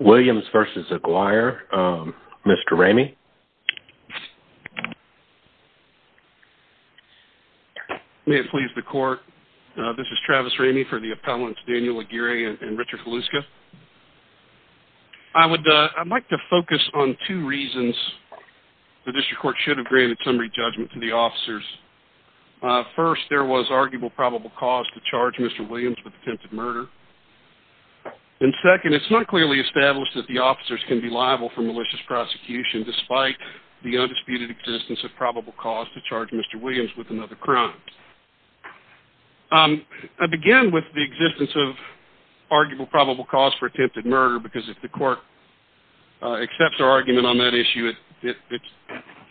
Williams v. Aguirre. Mr. Ramey, may it please the court. This is Travis Ramey for the appellants Daniel Aguirre and Richard Kaluska. I would like to focus on two reasons the district court should have granted summary judgment to the officers. First, there was arguable probable cause to charge Mr. Williams with attempted murder. And second, it's not clearly established that the officers can be liable for malicious prosecution despite the undisputed existence of probable cause to charge Mr. Williams with another crime. I begin with the existence of arguable probable cause for attempted murder because if the court accepts our argument on that issue, if the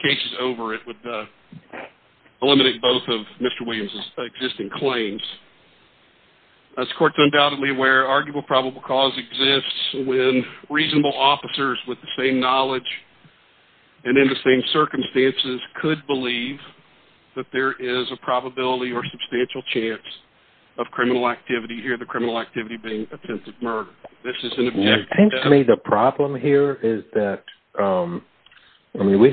case is over, it would eliminate both of Mr. Williams' existing claims. This court is undoubtedly aware arguable probable cause exists when reasonable officers with the same knowledge and in the same circumstances could believe that there is a probability or substantial chance of criminal activity here, the criminal activity being attempted murder. This is an objection to that. I think to me the problem here is that, I mean, we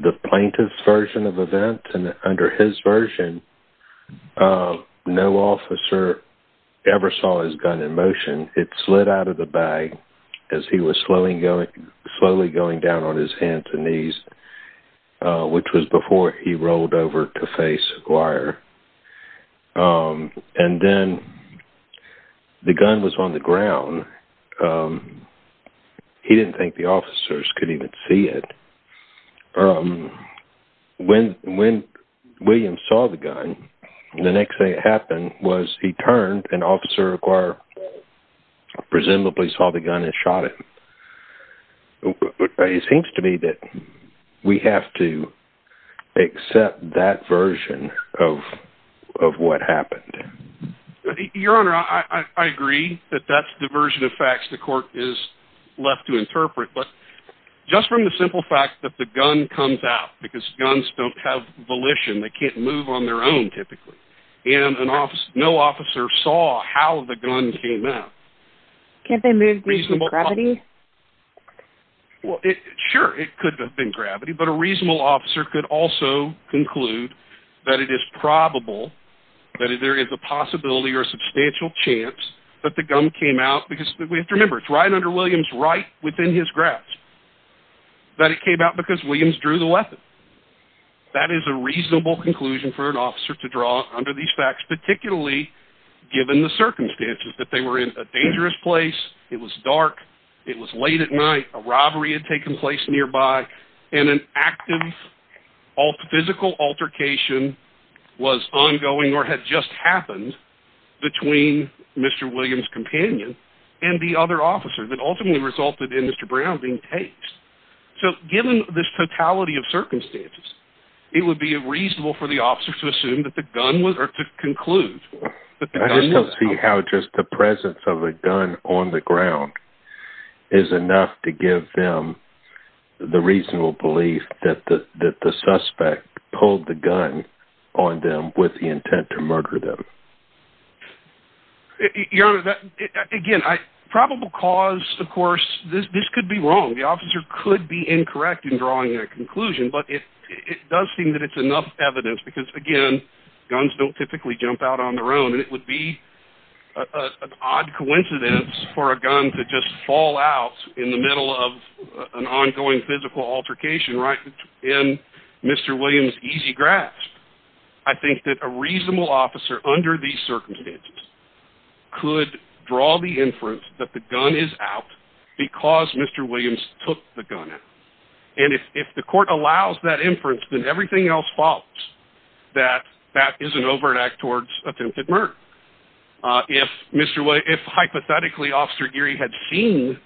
the plaintiff's version of event and under his version, no officer ever saw his gun in motion. It slid out of the bag as he was slowly going down on his hands and knees, which was before he rolled over to face Aguirre. And then the gun was on the ground. He didn't think the officers could even see it. When Williams saw the gun, the next thing that happened was he turned and officer Aguirre presumably saw the gun and shot him. It seems to me that we have to accept that version of what happened. Your Honor, I agree that that's the simple fact that the gun comes out because guns don't have volition. They can't move on their own, typically. And no officer saw how the gun came out. Can't they move using gravity? Well, sure, it could have been gravity, but a reasonable officer could also conclude that it is probable that there is a possibility or a substantial chance that the gun came out because we have to Williams drew the weapon. That is a reasonable conclusion for an officer to draw under these facts, particularly given the circumstances, that they were in a dangerous place, it was dark, it was late at night, a robbery had taken place nearby, and an active physical altercation was ongoing or had just happened between Mr. Williams' companion and the other officer that ultimately resulted in Mr. Brown being tased. So given this totality of circumstances, it would be reasonable for the officer to assume that the gun was, or to conclude that the gun... I just don't see how just the presence of a gun on the ground is enough to give them the reasonable belief that the suspect pulled the gun on them with the intent to murder them. Your Honor, again, probable cause, of course, this could be wrong. The officer could be incorrect in drawing their conclusion, but it does seem that it's enough evidence because, again, guns don't typically jump out on their own, and it would be an odd coincidence for a gun to just fall out in the middle of an ongoing physical altercation right in Mr. Williams' easy grasp. I think that a reasonable officer under these circumstances could draw the inference that the gun is out because Mr. Williams took the gun out. And if the court allows that inference, then everything else follows, that that is an overt act towards attempted murder. If Mr. Williams, if hypothetically Officer Geary had seen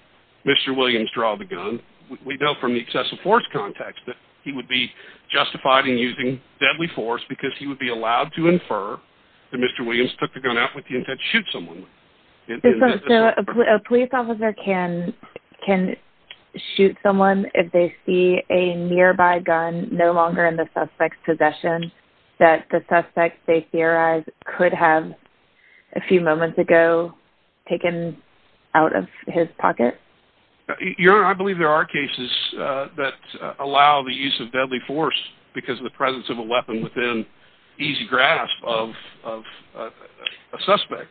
Mr. Williams draw the gun, we know from the possessive force context that he would be justified in using deadly force because he would be allowed to infer that Mr. Williams took the gun out with the intent to shoot someone. So a police officer can shoot someone if they see a nearby gun no longer in the suspect's possession that the suspect, they theorize, could have a few moments ago taken out of his pocket? Your Honor, I believe there are cases that allow the use of deadly force because of the presence of a weapon within easy grasp of a suspect.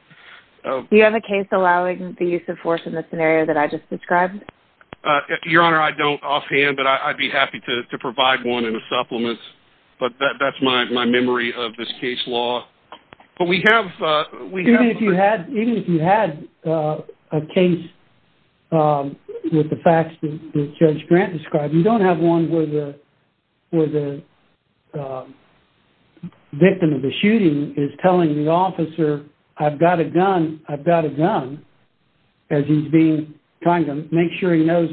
Do you have a case allowing the use of force in the scenario that I just described? Your Honor, I don't offhand, but I'd be happy to provide one in a supplement, but that's my memory of this case law. Even if you had a case with the facts that Judge Grant described, you don't have one where the victim of the shooting is telling the officer, I've got a gun, I've got a gun, as he's being trying to make sure he is most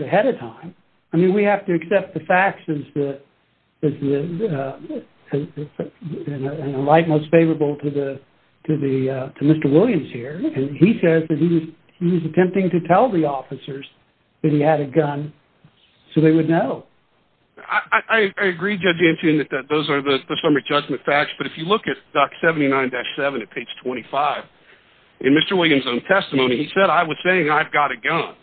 favorable to Mr. Williams here, and he says that he was attempting to tell the officers that he had a gun so they would know. I agree Judge Antion that those are the summary judgment facts, but if you look at Doc 79-7 at page 25, in Mr. Williams' own testimony, he said I was saying I've got a gun,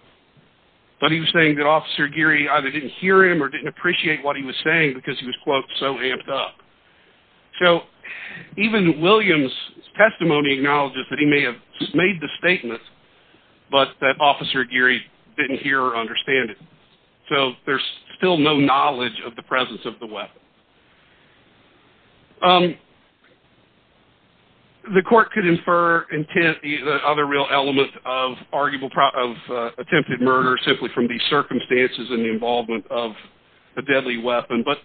but he was saying that Officer Geary either didn't hear him or didn't appreciate what he was saying because he was, quote, so amped up. So even Williams' testimony acknowledges that he may have made the statement, but that Officer Geary didn't hear or understand it. So there's still no knowledge of the presence of the weapon. The court could infer intent, the other real element of attempted murder simply from these circumstances and the involvement of a deadly weapon, but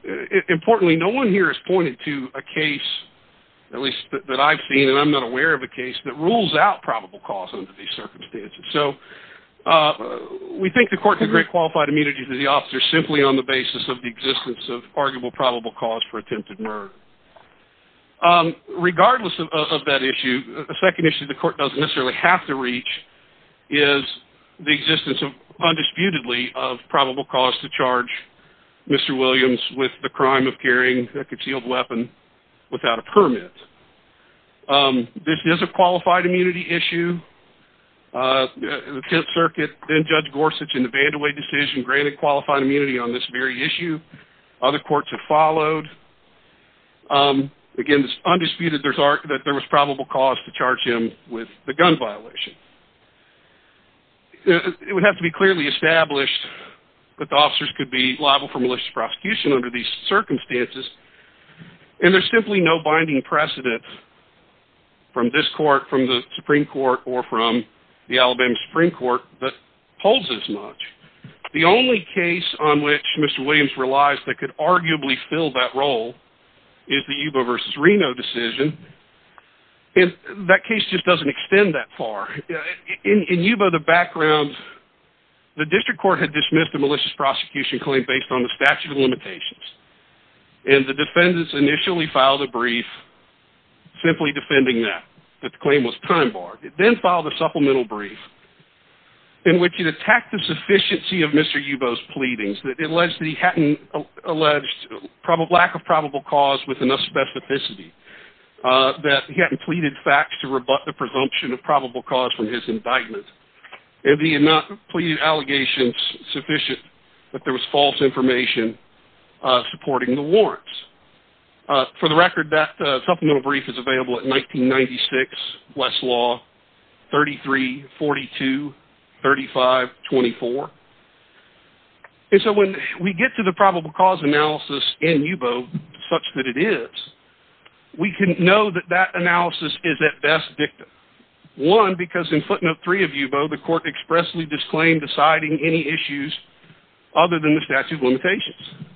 importantly, no one here has pointed to a case, at least that I've seen and I'm not aware of a case, that rules out probable cause under these circumstances. So we think the court can grant qualified immunity to the officer simply on the basis of the existence of arguable probable cause for attempted murder. Regardless of that issue, the second issue the court doesn't necessarily have to reach is the existence of, undisputedly, of probable cause to charge Mr. Williams with the crime of carrying a concealed weapon without a permit. This is a qualified immunity issue. The Tenth Circuit, then Judge Gorsuch in the Vandeway decision, granted qualified immunity on this very issue. Other courts have followed. Again, it's undisputed that there was probable cause to charge him with the gun violation. It would have to be clearly established that the officers could be liable for malicious prosecution under these circumstances and there's simply no binding precedent from this court, from the Supreme Court, or from the Alabama Supreme Court that holds as much. The only case on which Mr. Williams relies that could arguably fill that decision, and that case just doesn't extend that far. In Yubo, the background, the district court had dismissed a malicious prosecution claim based on the statute of limitations and the defendants initially filed a brief simply defending that, that the claim was time-barred. It then filed a supplemental brief in which it attacked the sufficiency of Mr. Yubo's pleadings that alleged that he hadn't alleged lack of probable cause with enough specificity, that he hadn't pleaded facts to rebut the presumption of probable cause from his indictment, and he had not pleaded allegations sufficient that there was false information supporting the warrants. For the record, that supplemental brief is available at 1996 Westlaw 33-42-35-24. And so when we get to the we can know that that analysis is at best victim. One, because in footnote three of Yubo, the court expressly disclaimed deciding any issues other than the statute of limitations.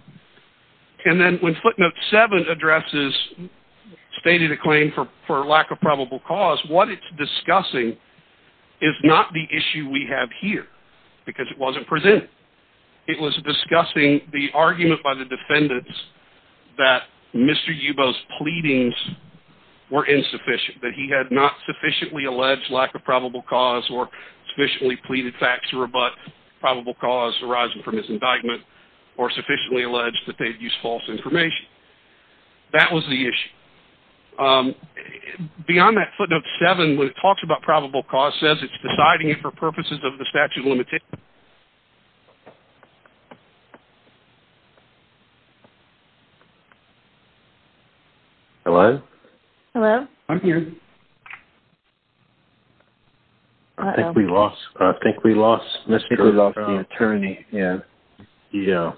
And then when footnote seven addresses stated a claim for lack of probable cause, what it's discussing is not the issue we have here, because it wasn't presented. It was discussing the argument by the pleadings were insufficient, that he had not sufficiently alleged lack of probable cause or sufficiently pleaded facts to rebut probable cause arising from his indictment, or sufficiently alleged that they'd used false information. That was the issue. Beyond that, footnote seven, when it talks about probable cause, says it's deciding it for purposes of the statute of limitations. Hello? Hello? I'm here. I think we lost, I think we lost Mr. Brown. I think we lost the attorney. Yeah. Yeah.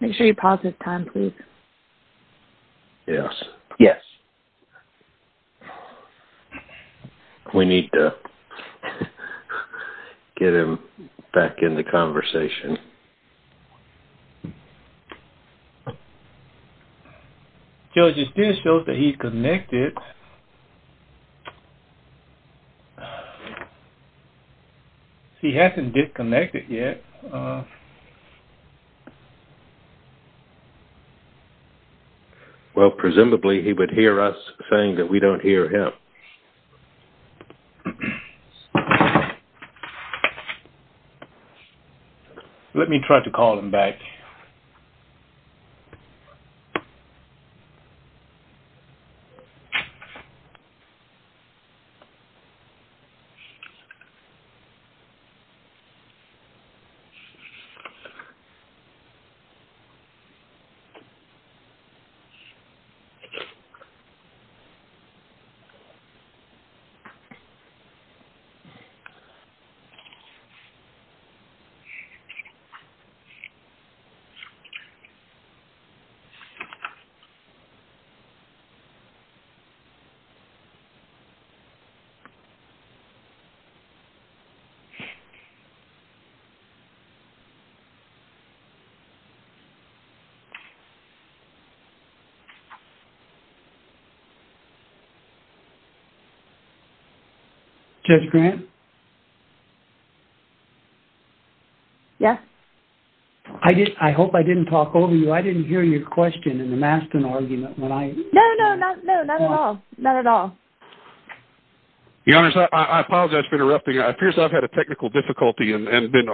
Make sure you pause this time, please. Yes. Yes. We need to get him back in the room. It still shows that he's connected. He hasn't disconnected yet. Well, presumably he would hear us saying that we don't hear him. Let me try to call him back. Judge Grant? Yeah. I did, I hope I didn't talk over you. I didn't hear your question in the Mastin argument. No, no, not at all. Not at all. Your Honor, I apologize for interrupting. It appears I've had a technical difficulty and been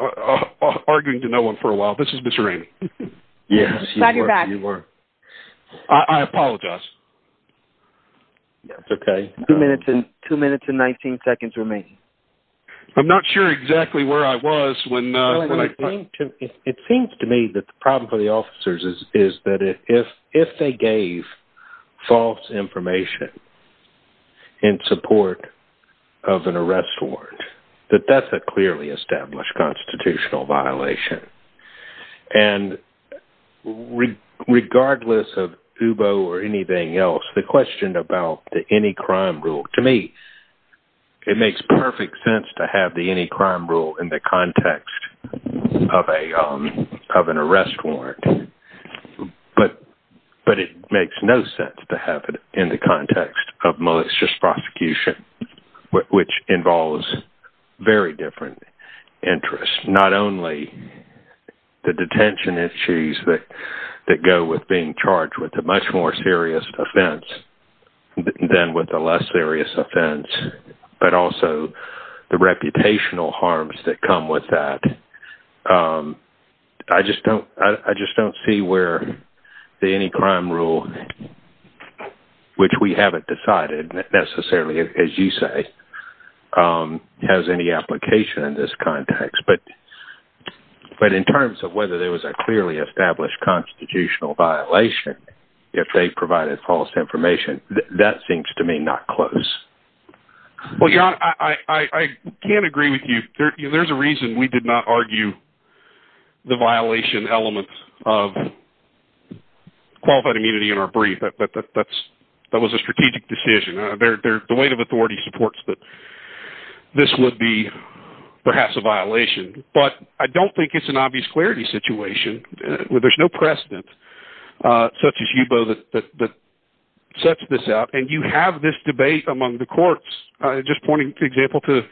arguing to no one for a while. This is Mr. Rainey. Yes, you were. I apologize. That's okay. Two minutes and 19 seconds remaining. I'm not sure exactly where I was when I... It seems to me that the problem for the officers is that if they gave false information in support of an arrest warrant, that that's a clearly established constitutional violation. And regardless of UBO or anything else, the question about the any-crime rule, to me, it makes perfect sense to have the any-crime rule in the context of an arrest warrant. But it makes no sense to have it in the context of malicious prosecution, which involves very different interests. Not only the detention issues that go with being charged with a much more serious offense than with a less serious offense, but also the reputational harms that come with that. I just don't see where the any-crime rule, which we haven't decided necessarily, as you say, has any application in this context. But in terms of whether there was a clearly established constitutional violation, if they provided false information, that seems to me not close. Well, John, I can't agree with you. There's a reason we did not argue the violation element of qualified immunity in our brief. That was a strategic decision. The weight of authority supports that this would be perhaps a violation. But I don't think it's an obvious clarity situation. There's no precedent such as you, Bo, that sets this out. And you have this debate among the courts. Just pointing to example to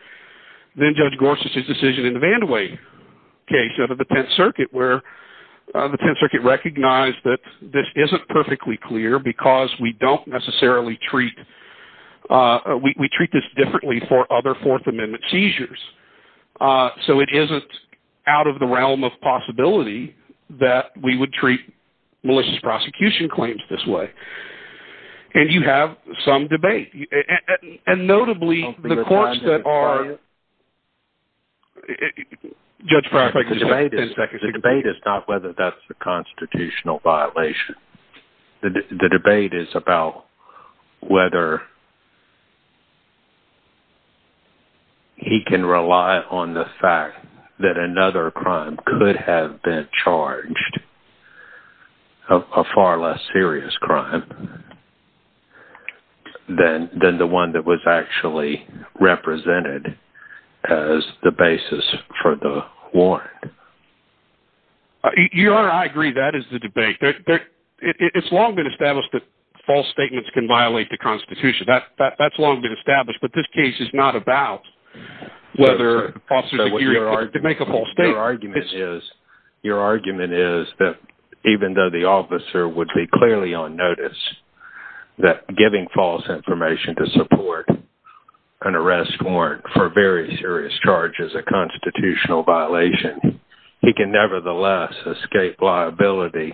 then-Judge Gorsuch's decision in the Vandeway case out of the Tenth Circuit, where the Tenth Circuit recognized that this isn't perfectly clear because we don't necessarily treat, we treat this in the realm of possibility, that we would treat malicious prosecution claims this way. And you have some debate. And notably, the courts that are... The debate is not whether that's a constitutional violation. The debate is about whether he can rely on the fact that another crime could have been charged, a far less serious crime, than the one that was actually represented as the basis for the warrant. Your Honor, I agree. That is the debate. It's long been established that false statements can violate the Constitution. That's long been established. But this case is not about whether false statements can make a false statement. Your argument is that even though the officer would be clearly on notice, that giving false information to support an arrest warrant for very serious charges a constitutional violation, he can nevertheless escape liability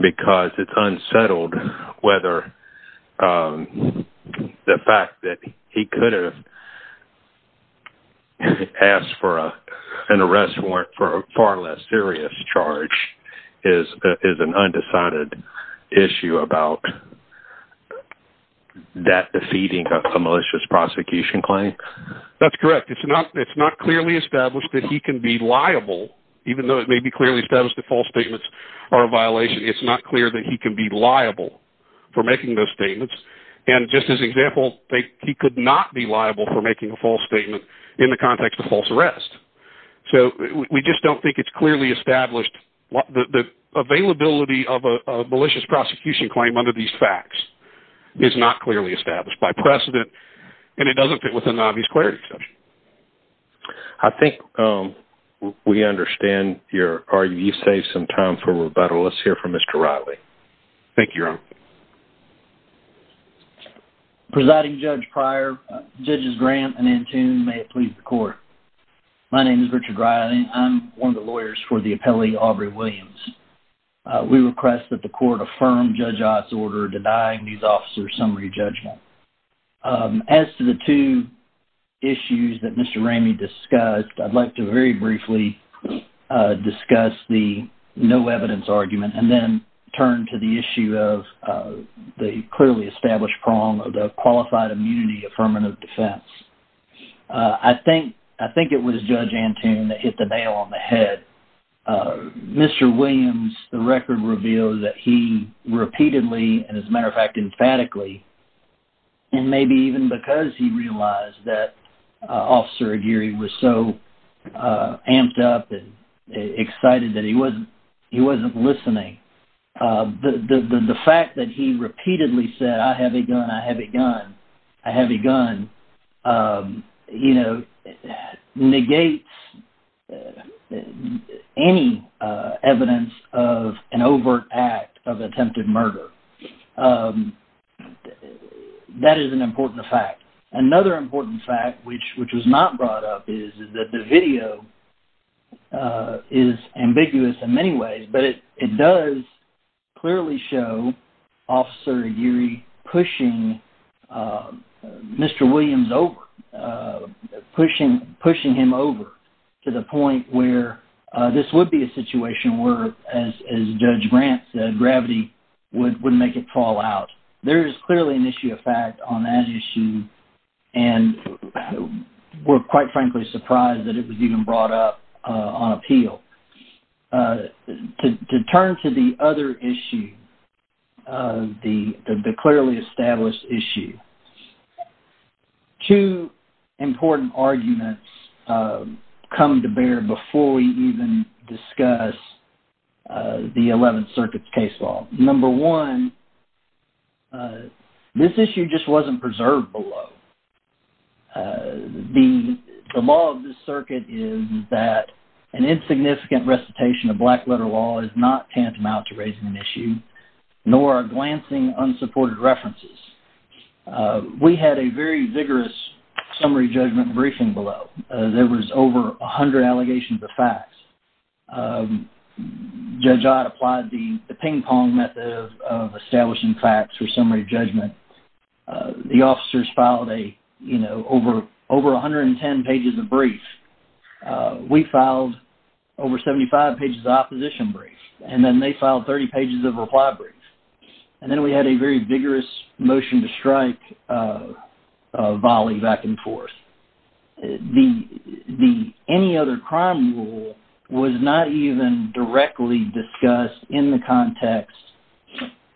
because it's unsettled whether the fact that he could have asked for an arrest warrant for a far less serious charge is an undecided issue about that defeating a malicious prosecution claim? That's correct. It's not clearly established that he can be liable, even though it would be clearly established that false statements are a violation. It's not clear that he can be liable for making those statements. And just as an example, he could not be liable for making a false statement in the context of false arrest. So we just don't think it's clearly established. The availability of a malicious prosecution claim under these facts is not clearly established by precedent, and it doesn't fit within the obvious clarity assumption. I think we understand your argument. You saved some time for rebuttal. Let's hear from Mr. Riley. Thank you, Ron. Presiding Judge Pryor, Judges Graham and Antoon, may it please the court. My name is Richard Riley. I'm one of the lawyers for the appellee, Aubrey Williams. We request that the court affirm Judge Ott's order denying these officers summary judgment. As to the two issues that Mr. Ramey discussed, I'd like to very briefly discuss the no evidence argument and then turn to the issue of the clearly established prong of the qualified immunity affirmative defense. I think it was Judge Antoon that hit the nail on the head. Mr. Williams, the record reveals that he repeatedly, and as a matter of fact, emphatically, and maybe even because he realized that Officer Aguirre was so amped up and excited that he wasn't listening, the fact that he repeatedly said, I have a gun, I have a gun, I have a gun, negates any evidence of an overt act of attempted murder. That is an important fact. Another important fact, which was not brought up, is that the video is ambiguous in many ways, but it does clearly show Officer Aguirre pushing Mr. Williams over, pushing him over to the point where this would be a situation where, as Judge Grant said, gravity would make it fall out. There is clearly an issue of fact on that issue, and we're quite frankly surprised that it was even brought up on appeal. To turn to the other issue, the clearly established issue, two important arguments come to bear before we even discuss the 11th Circuit's case law. Number one, this issue just wasn't preserved below. The law of this circuit is that an insignificant recitation of black letter law is not tantamount to raising an issue, nor are glancing unsupported references. We had a very vigorous summary judgment briefing below. There was over 100 allegations of facts. Judge Ott applied the ping-pong method of establishing facts for summary judgment. The officers filed over 110 pages of briefs. We filed over 75 pages of opposition briefs, and then they filed 30 pages of reply briefs. Then we had a very vigorous motion to strike volley back and forth. Any other crime rule was not even directly discussed in the context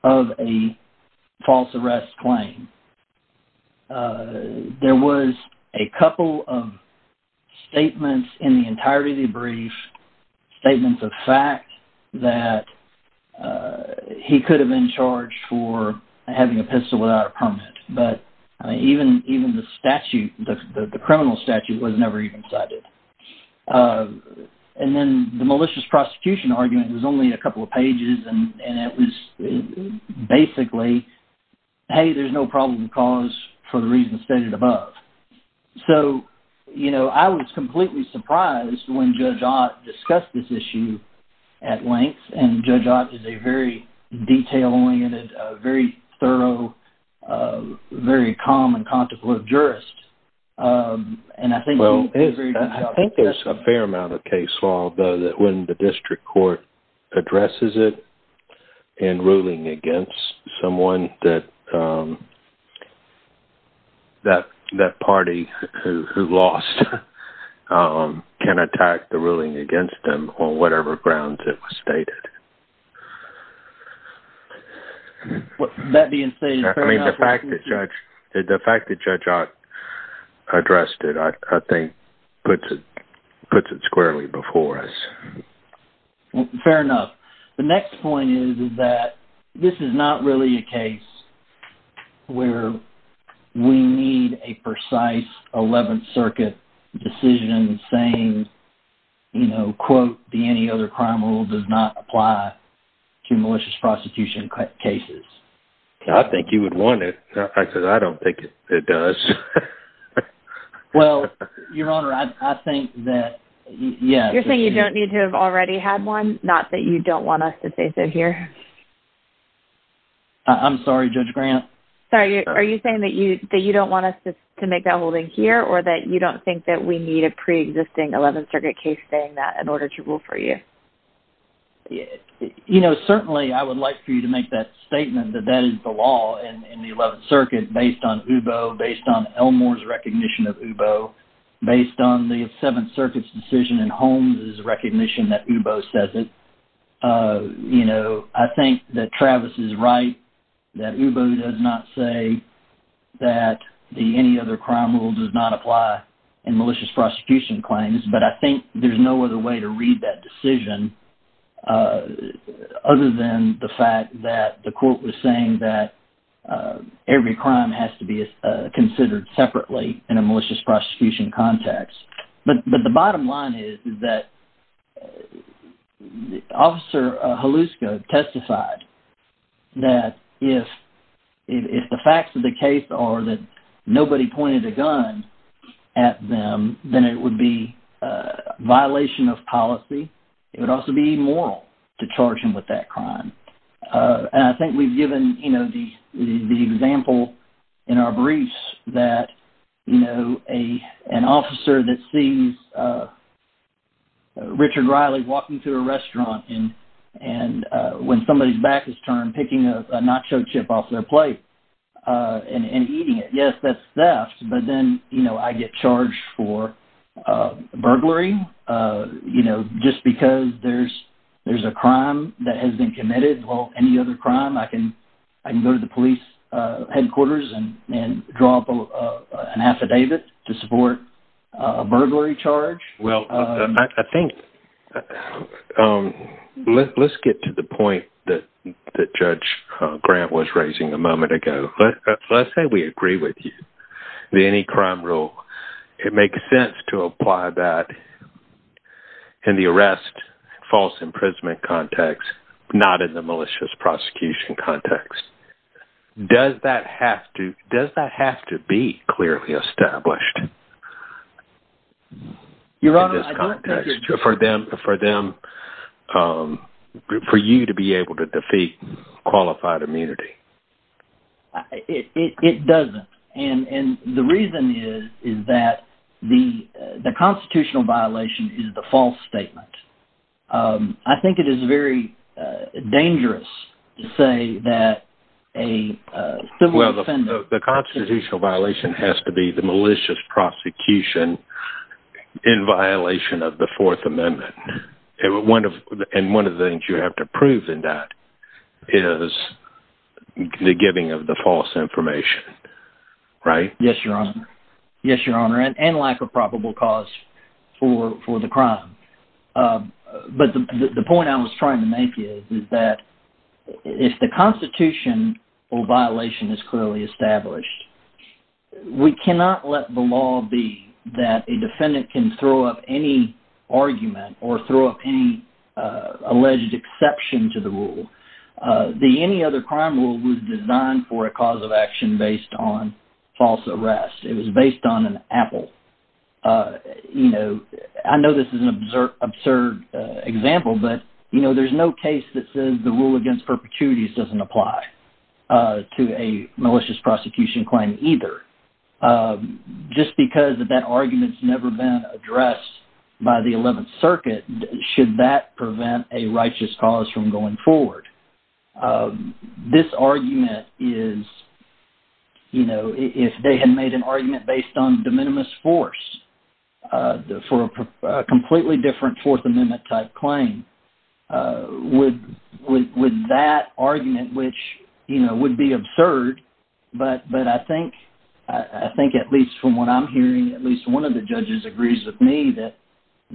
of a false arrest claim. There was a couple of statements in the entirety of the brief, statements of fact that he could have been charged for having a pistol without a permit, but even the statute, the criminal statute, was never even cited. Then the malicious prosecution argument was only a couple of pages, and it was basically, hey, there's no problem with cause for the reasons stated above. I was completely surprised when Judge Ott discussed this issue at length, and Judge Ott is a very detail-oriented, very thorough, very calm and contemplative jurist. Well, I think there's a fair amount of case law, though, that when the district court addresses it in ruling against someone, that party who lost can attack the ruling against them on whatever grounds it was stated. That being stated, fair enough. The fact that Judge Ott addressed it, I think, puts it squarely before us. Fair enough. The next point is that this is not really a case where we need a precise 11th Circuit decision saying, quote, the any other crime rule does not apply to malicious prosecution cases. I think you would want it. As a matter of fact, I don't think it does. Well, Your Honor, I think that, yes. You're saying you don't need to have already had one? Not that you don't want us to say so here? I'm sorry, Judge Grant. Are you saying that you don't want us to make that holding here, or that you don't think that we need a pre-existing 11th Circuit case saying that in order to rule for you? You know, certainly I would like for you to make that statement that that is the law in the 11th Circuit based on UBO, based on Elmore's recognition of UBO, based on the 7th Circuit's decision and Holmes' recognition that UBO says it. You know, I think that Travis is right, that UBO does not say that the any other crime rule does not apply in malicious prosecution claims, but I think there's no other way to read that decision other than the fact that the court was saying that every crime has to be considered separately in a malicious prosecution context. But the bottom line is that Officer Holuska testified that if the facts of the case are that nobody pointed a gun at them, then it would be a violation of policy. It would also be immoral to charge him with that crime. And I think we've given, you know, the example in our briefs that, you know, an officer that sees Richard Riley walking through a restaurant and when somebody's back is turned, picking a nacho chip off their plate and eating it. Yes, that's theft, but then, you know, I get charged for burglary, you know, just because there's a crime that has been committed. I can go to the police headquarters and draw up an affidavit to support a burglary charge. Well, I think, let's get to the point that Judge Grant was raising a moment ago. Let's say we agree with you, the any crime rule. It makes sense to apply that in the arrest, false imprisonment context, not in the malicious prosecution context. Does that have to be clearly established? Your Honor, I don't think it's true. For them, for you to be able to defeat qualified immunity. It doesn't. And the reason is that the constitutional violation is the false statement. I think it is very dangerous to say that a civil offender... Well, the constitutional violation has to be the malicious prosecution in violation of the Fourth Amendment. And one of the things you have to prove in that is the giving of the false information, right? Yes, Your Honor. Yes, Your Honor, and lack of probable cause for the crime. But the point I was trying to make is that if the constitutional violation is clearly established, we cannot let the law be that a defendant can throw up any argument or throw up any alleged exception to the rule. The any other crime rule was designed for a cause of action based on false arrest. It was based on an apple. I know this is an absurd example, but there's no case that says the rule against perpetuities doesn't apply to a malicious prosecution claim either. Just because that argument's never been addressed by the Eleventh Circuit, should that prevent a righteous cause from going forward? This argument is... You know, if they had made an argument based on de minimis force for a completely different Fourth Amendment-type claim, would that argument, which, you know, would be absurd, but I think at least from what I'm hearing, at least one of the judges agrees with me that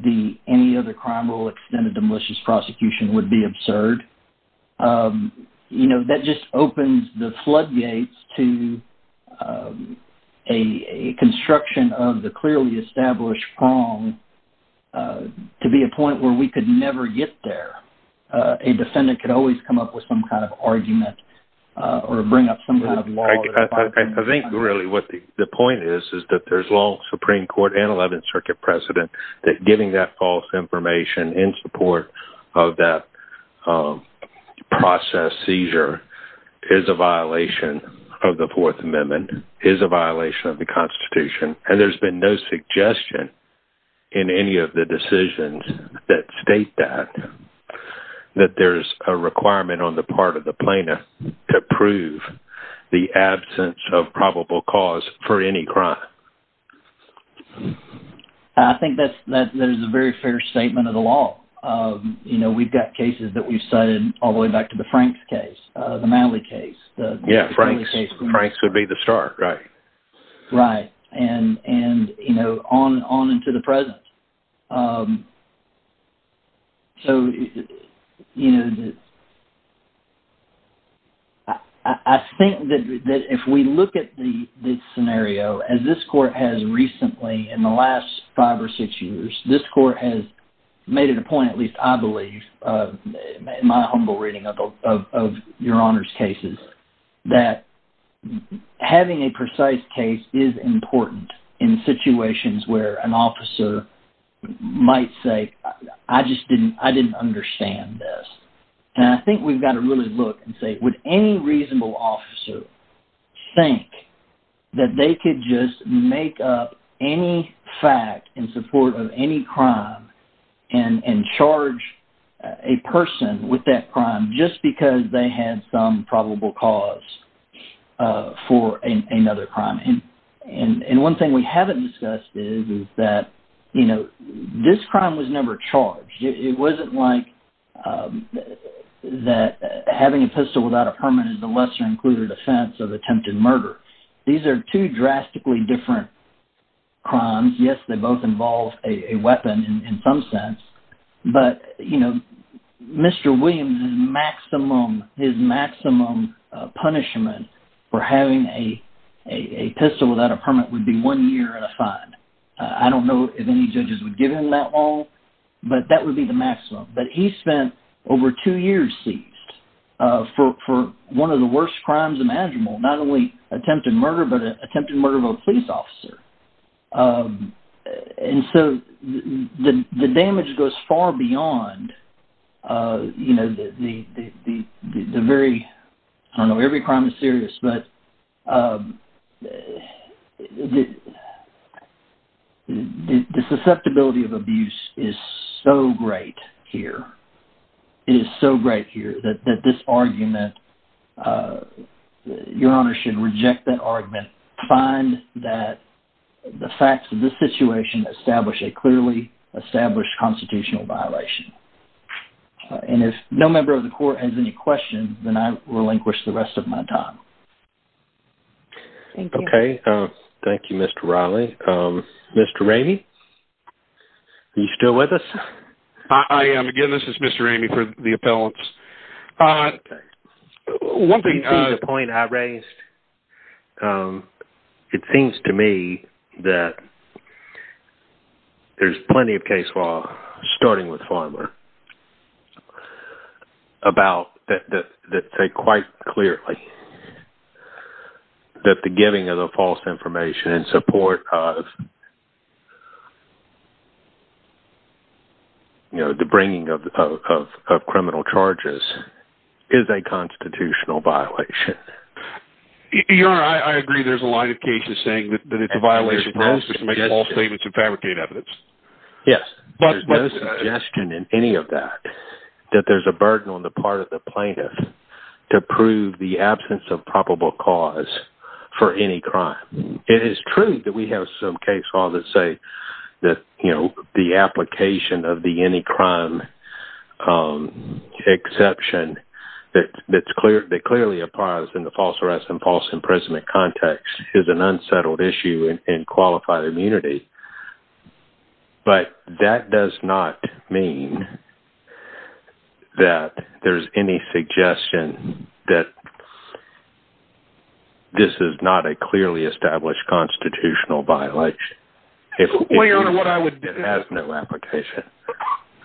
the any other crime rule extended to malicious prosecution would be absurd. You know, that just opens the floodgates to a construction of the clearly established wrong to be a point where we could never get there. A defendant could always come up with some kind of argument or bring up some kind of law... I think really what the point is is that there's long Supreme Court and Eleventh Circuit precedent that giving that false information in support of that process seizure is a violation of the Fourth Amendment, is a violation of the Constitution, and there's been no suggestion in any of the decisions that state that, that there's a requirement on the part of the plaintiff to prove the absence of probable cause for any crime. I think that is a very fair statement of the law. You know, we've got cases that we've cited all the way back to the Franks case, the Malley case. Yeah, Franks would be the start, right. Right, and, you know, on into the present. So, you know, I think that if we look at the scenario, as this court has recently in the last five or six years, this court has made it a point, at least I believe, in my humble reading of your Honor's cases, that having a precise case is important in situations where an officer might say, I just didn't, I didn't understand this. And I think we've got to really look and say, would any reasonable officer think that they could just make up any fact in support of any crime and charge a person with that crime just because they had some probable cause for another crime? And one thing we haven't discussed is that, you know, this crime was never charged. It wasn't like that having a pistol without a permit is a lesser included offense of attempted murder. These are two drastically different crimes. Yes, they both involve a weapon in some sense. But, you know, Mr. Williams' maximum, his maximum punishment for having a pistol without a permit would be one year and a fine. I don't know if any judges would give him that long, but that would be the maximum. But he spent over two years seized for one of the worst crimes imaginable, not only attempted murder, but an attempted murder of a police officer. And so the damage goes far beyond, you know, the very, I don't know, every crime is serious, but the susceptibility of abuse is so great here. It is so great here that this argument, Your Honor should reject that argument, find that the facts of this situation establish a clearly established constitutional violation. And if no member of the court has any questions, then I relinquish the rest of my time. Okay. Thank you, Mr. Riley. Mr. Ramey, are you still with us? I am. Again, this is Mr. Ramey for the appellants. Okay. Do you see the point I raised? It seems to me that there's plenty of case law, starting with Farmer, that say quite clearly that the giving of the false information in support of the bringing of criminal charges is a constitutional violation. Your Honor, I agree there's a line of cases saying that it's a violation of the law to make false statements and fabricate evidence. Yes, but there's no suggestion in any of that that there's a burden on the part of the plaintiff to prove the absence of probable cause for any crime. It is true that we have some case laws that say the application of the any crime exception that clearly applies in the false arrest and false imprisonment context is an unsettled issue in qualified immunity. But that does not mean that there's any suggestion that this is not a clearly established constitutional violation. Well, Your Honor, what I would... It has no application.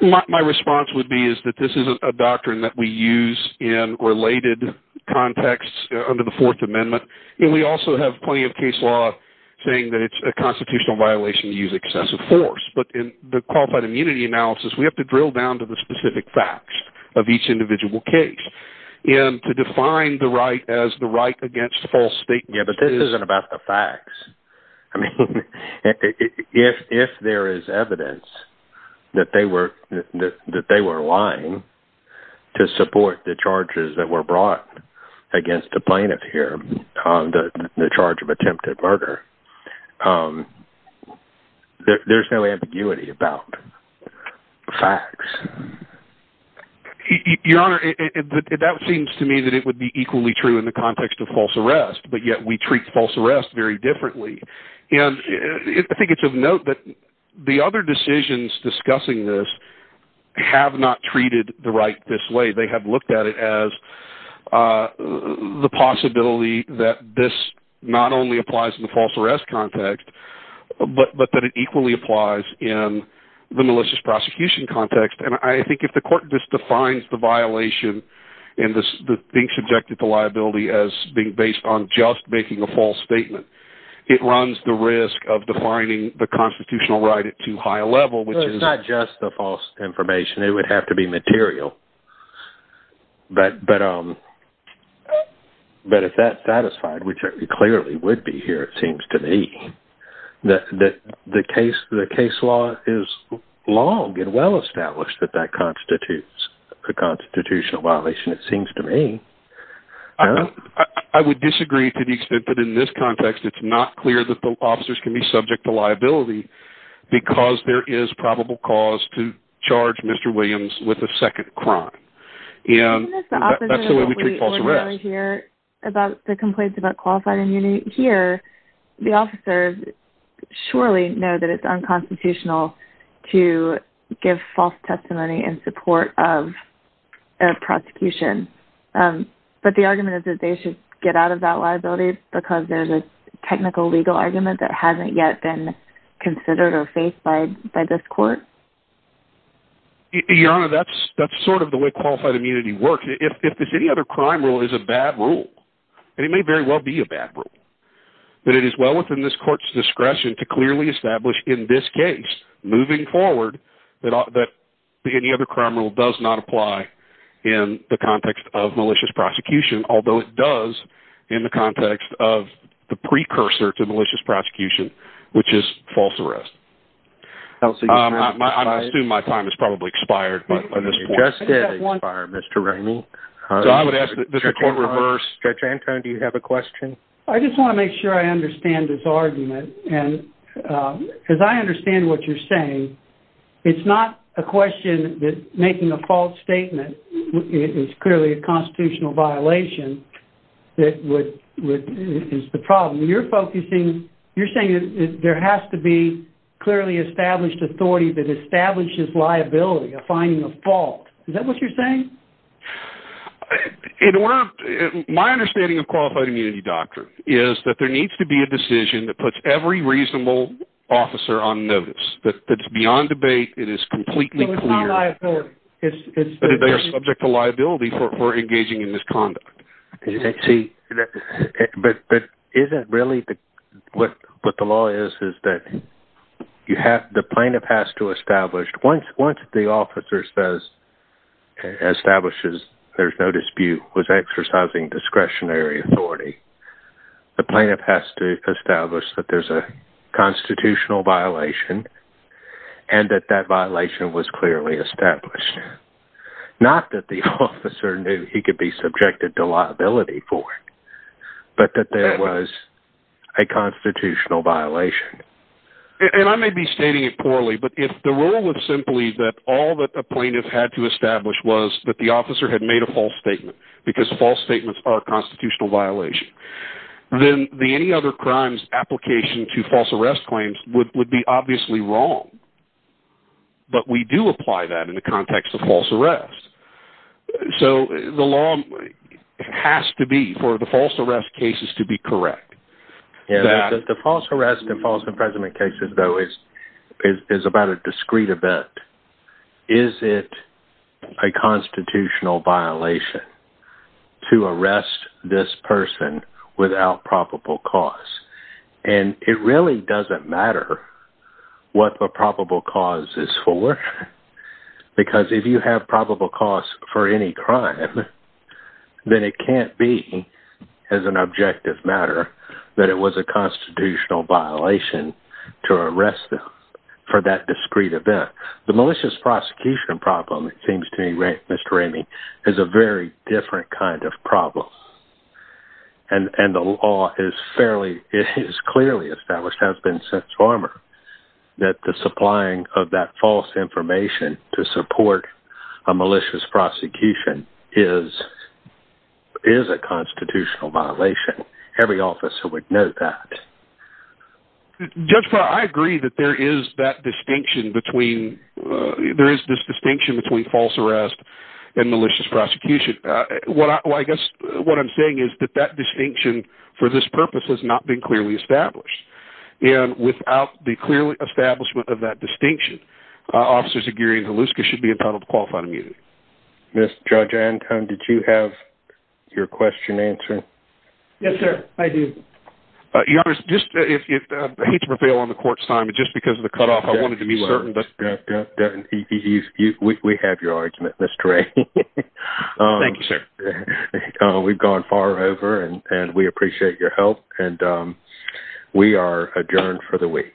My response would be is that this is a doctrine that we use in related contexts under the Fourth Amendment, and we also have plenty of case law saying that it's a constitutional violation to use excessive force. But in the qualified immunity analysis, we have to drill down to the specific facts of each individual case. And to define the right as the right against false statements is... Yeah, but this isn't about the facts. I mean, if there is evidence that they were lying to support the charges that were brought against the plaintiff here on the charge of attempted murder, there's no ambiguity about facts. Your Honor, that seems to me that it would be equally true in the context of false arrest, but yet we treat false arrest very differently. And I think it's of note that the other decisions discussing this have not treated the right this way. They have looked at it as the possibility that this not only applies in the false arrest context, but that it equally applies in the malicious prosecution context. And I think if the court just defines the violation and being subjected to liability as being based on just making a false statement, it runs the risk of defining the constitutional right at too high a level, which is... Well, it's not just the false information. It would have to be material. But if that's satisfied, which it clearly would be here, it seems to me, that the case law is long and well-established that that constitutes a constitutional violation, it seems to me. I would disagree to the extent that in this context it's not clear that the officers can be subject to liability because there is probable cause to charge Mr Williams with a second crime. And that's the way we treat false arrest. When we hear about the complaints about qualified immunity here, the officers surely know that it's unconstitutional to give false testimony in support of a prosecution. But the argument is that they should get out of that liability because there's a technical legal argument that hasn't yet been considered or faced by this court? Your Honor, that's sort of the way qualified immunity works. If this any other crime rule is a bad rule, and it may very well be a bad rule, that it is well within this court's discretion to clearly establish in this case, moving forward, that any other crime rule does not apply in the context of malicious prosecution, although it does in the context of the precursor to malicious prosecution, which is false arrest. I assume my time has probably expired by this point. It just did expire, Mr. Ramey. Judge Anton, do you have a question? I just want to make sure I understand this argument. As I understand what you're saying, it's not a question that making a false statement is clearly a constitutional violation that is the problem. You're focusing... You're saying there has to be clearly established authority that establishes liability of finding a fault. Is that what you're saying? In order... My understanding of qualified immunity doctrine is that there needs to be a decision that puts every reasonable officer on notice, that it's beyond debate, it is completely clear. So it's not liability. They are subject to liability for engaging in misconduct. See, but isn't really what the law is is that the plaintiff has to establish... Once the officer establishes there's no dispute, was exercising discretionary authority, the plaintiff has to establish that there's a constitutional violation and that that violation was clearly established. Not that the officer knew he could be subjected to liability for it, but that there was a constitutional violation. And I may be stating it poorly, but if the rule was simply that all that the plaintiff had to establish was that the officer had made a false statement because false statements are a constitutional violation, then the any other crimes application to false arrest claims would be obviously wrong. But we do apply that in the context of false arrest. So the law has to be for the false arrest cases to be correct. The false arrest and false imprisonment cases, though, is about a discrete event. Is it a constitutional violation to arrest this person without probable cause? And it really doesn't matter what the probable cause is for because if you have probable cause for any crime, then it can't be as an objective matter that it was a constitutional violation to arrest them for that discrete event. The malicious prosecution problem, it seems to me, Mr. Ramey, is a very different kind of problem. And the law is fairly, is clearly established, has been since former, that the supplying of that false information to support a malicious prosecution is a constitutional violation. Every officer would know that. Judge, I agree that there is that distinction between, there is this distinction between false arrest and malicious prosecution. What I guess, what I'm saying is that that distinction for this purpose has not been clearly established. And without the clear establishment of that distinction, officers of Gary and Hluska should be entitled to qualified immunity. Judge Anton, did you have your question answered? Yes, sir. I do. Your Honor, I hate to prevail on the court's time, but just because of the cutoff, I wanted to be certain. We have your argument, Mr. Ramey. Thank you, sir. We've gone far over and we appreciate your help. And we are adjourned for the week.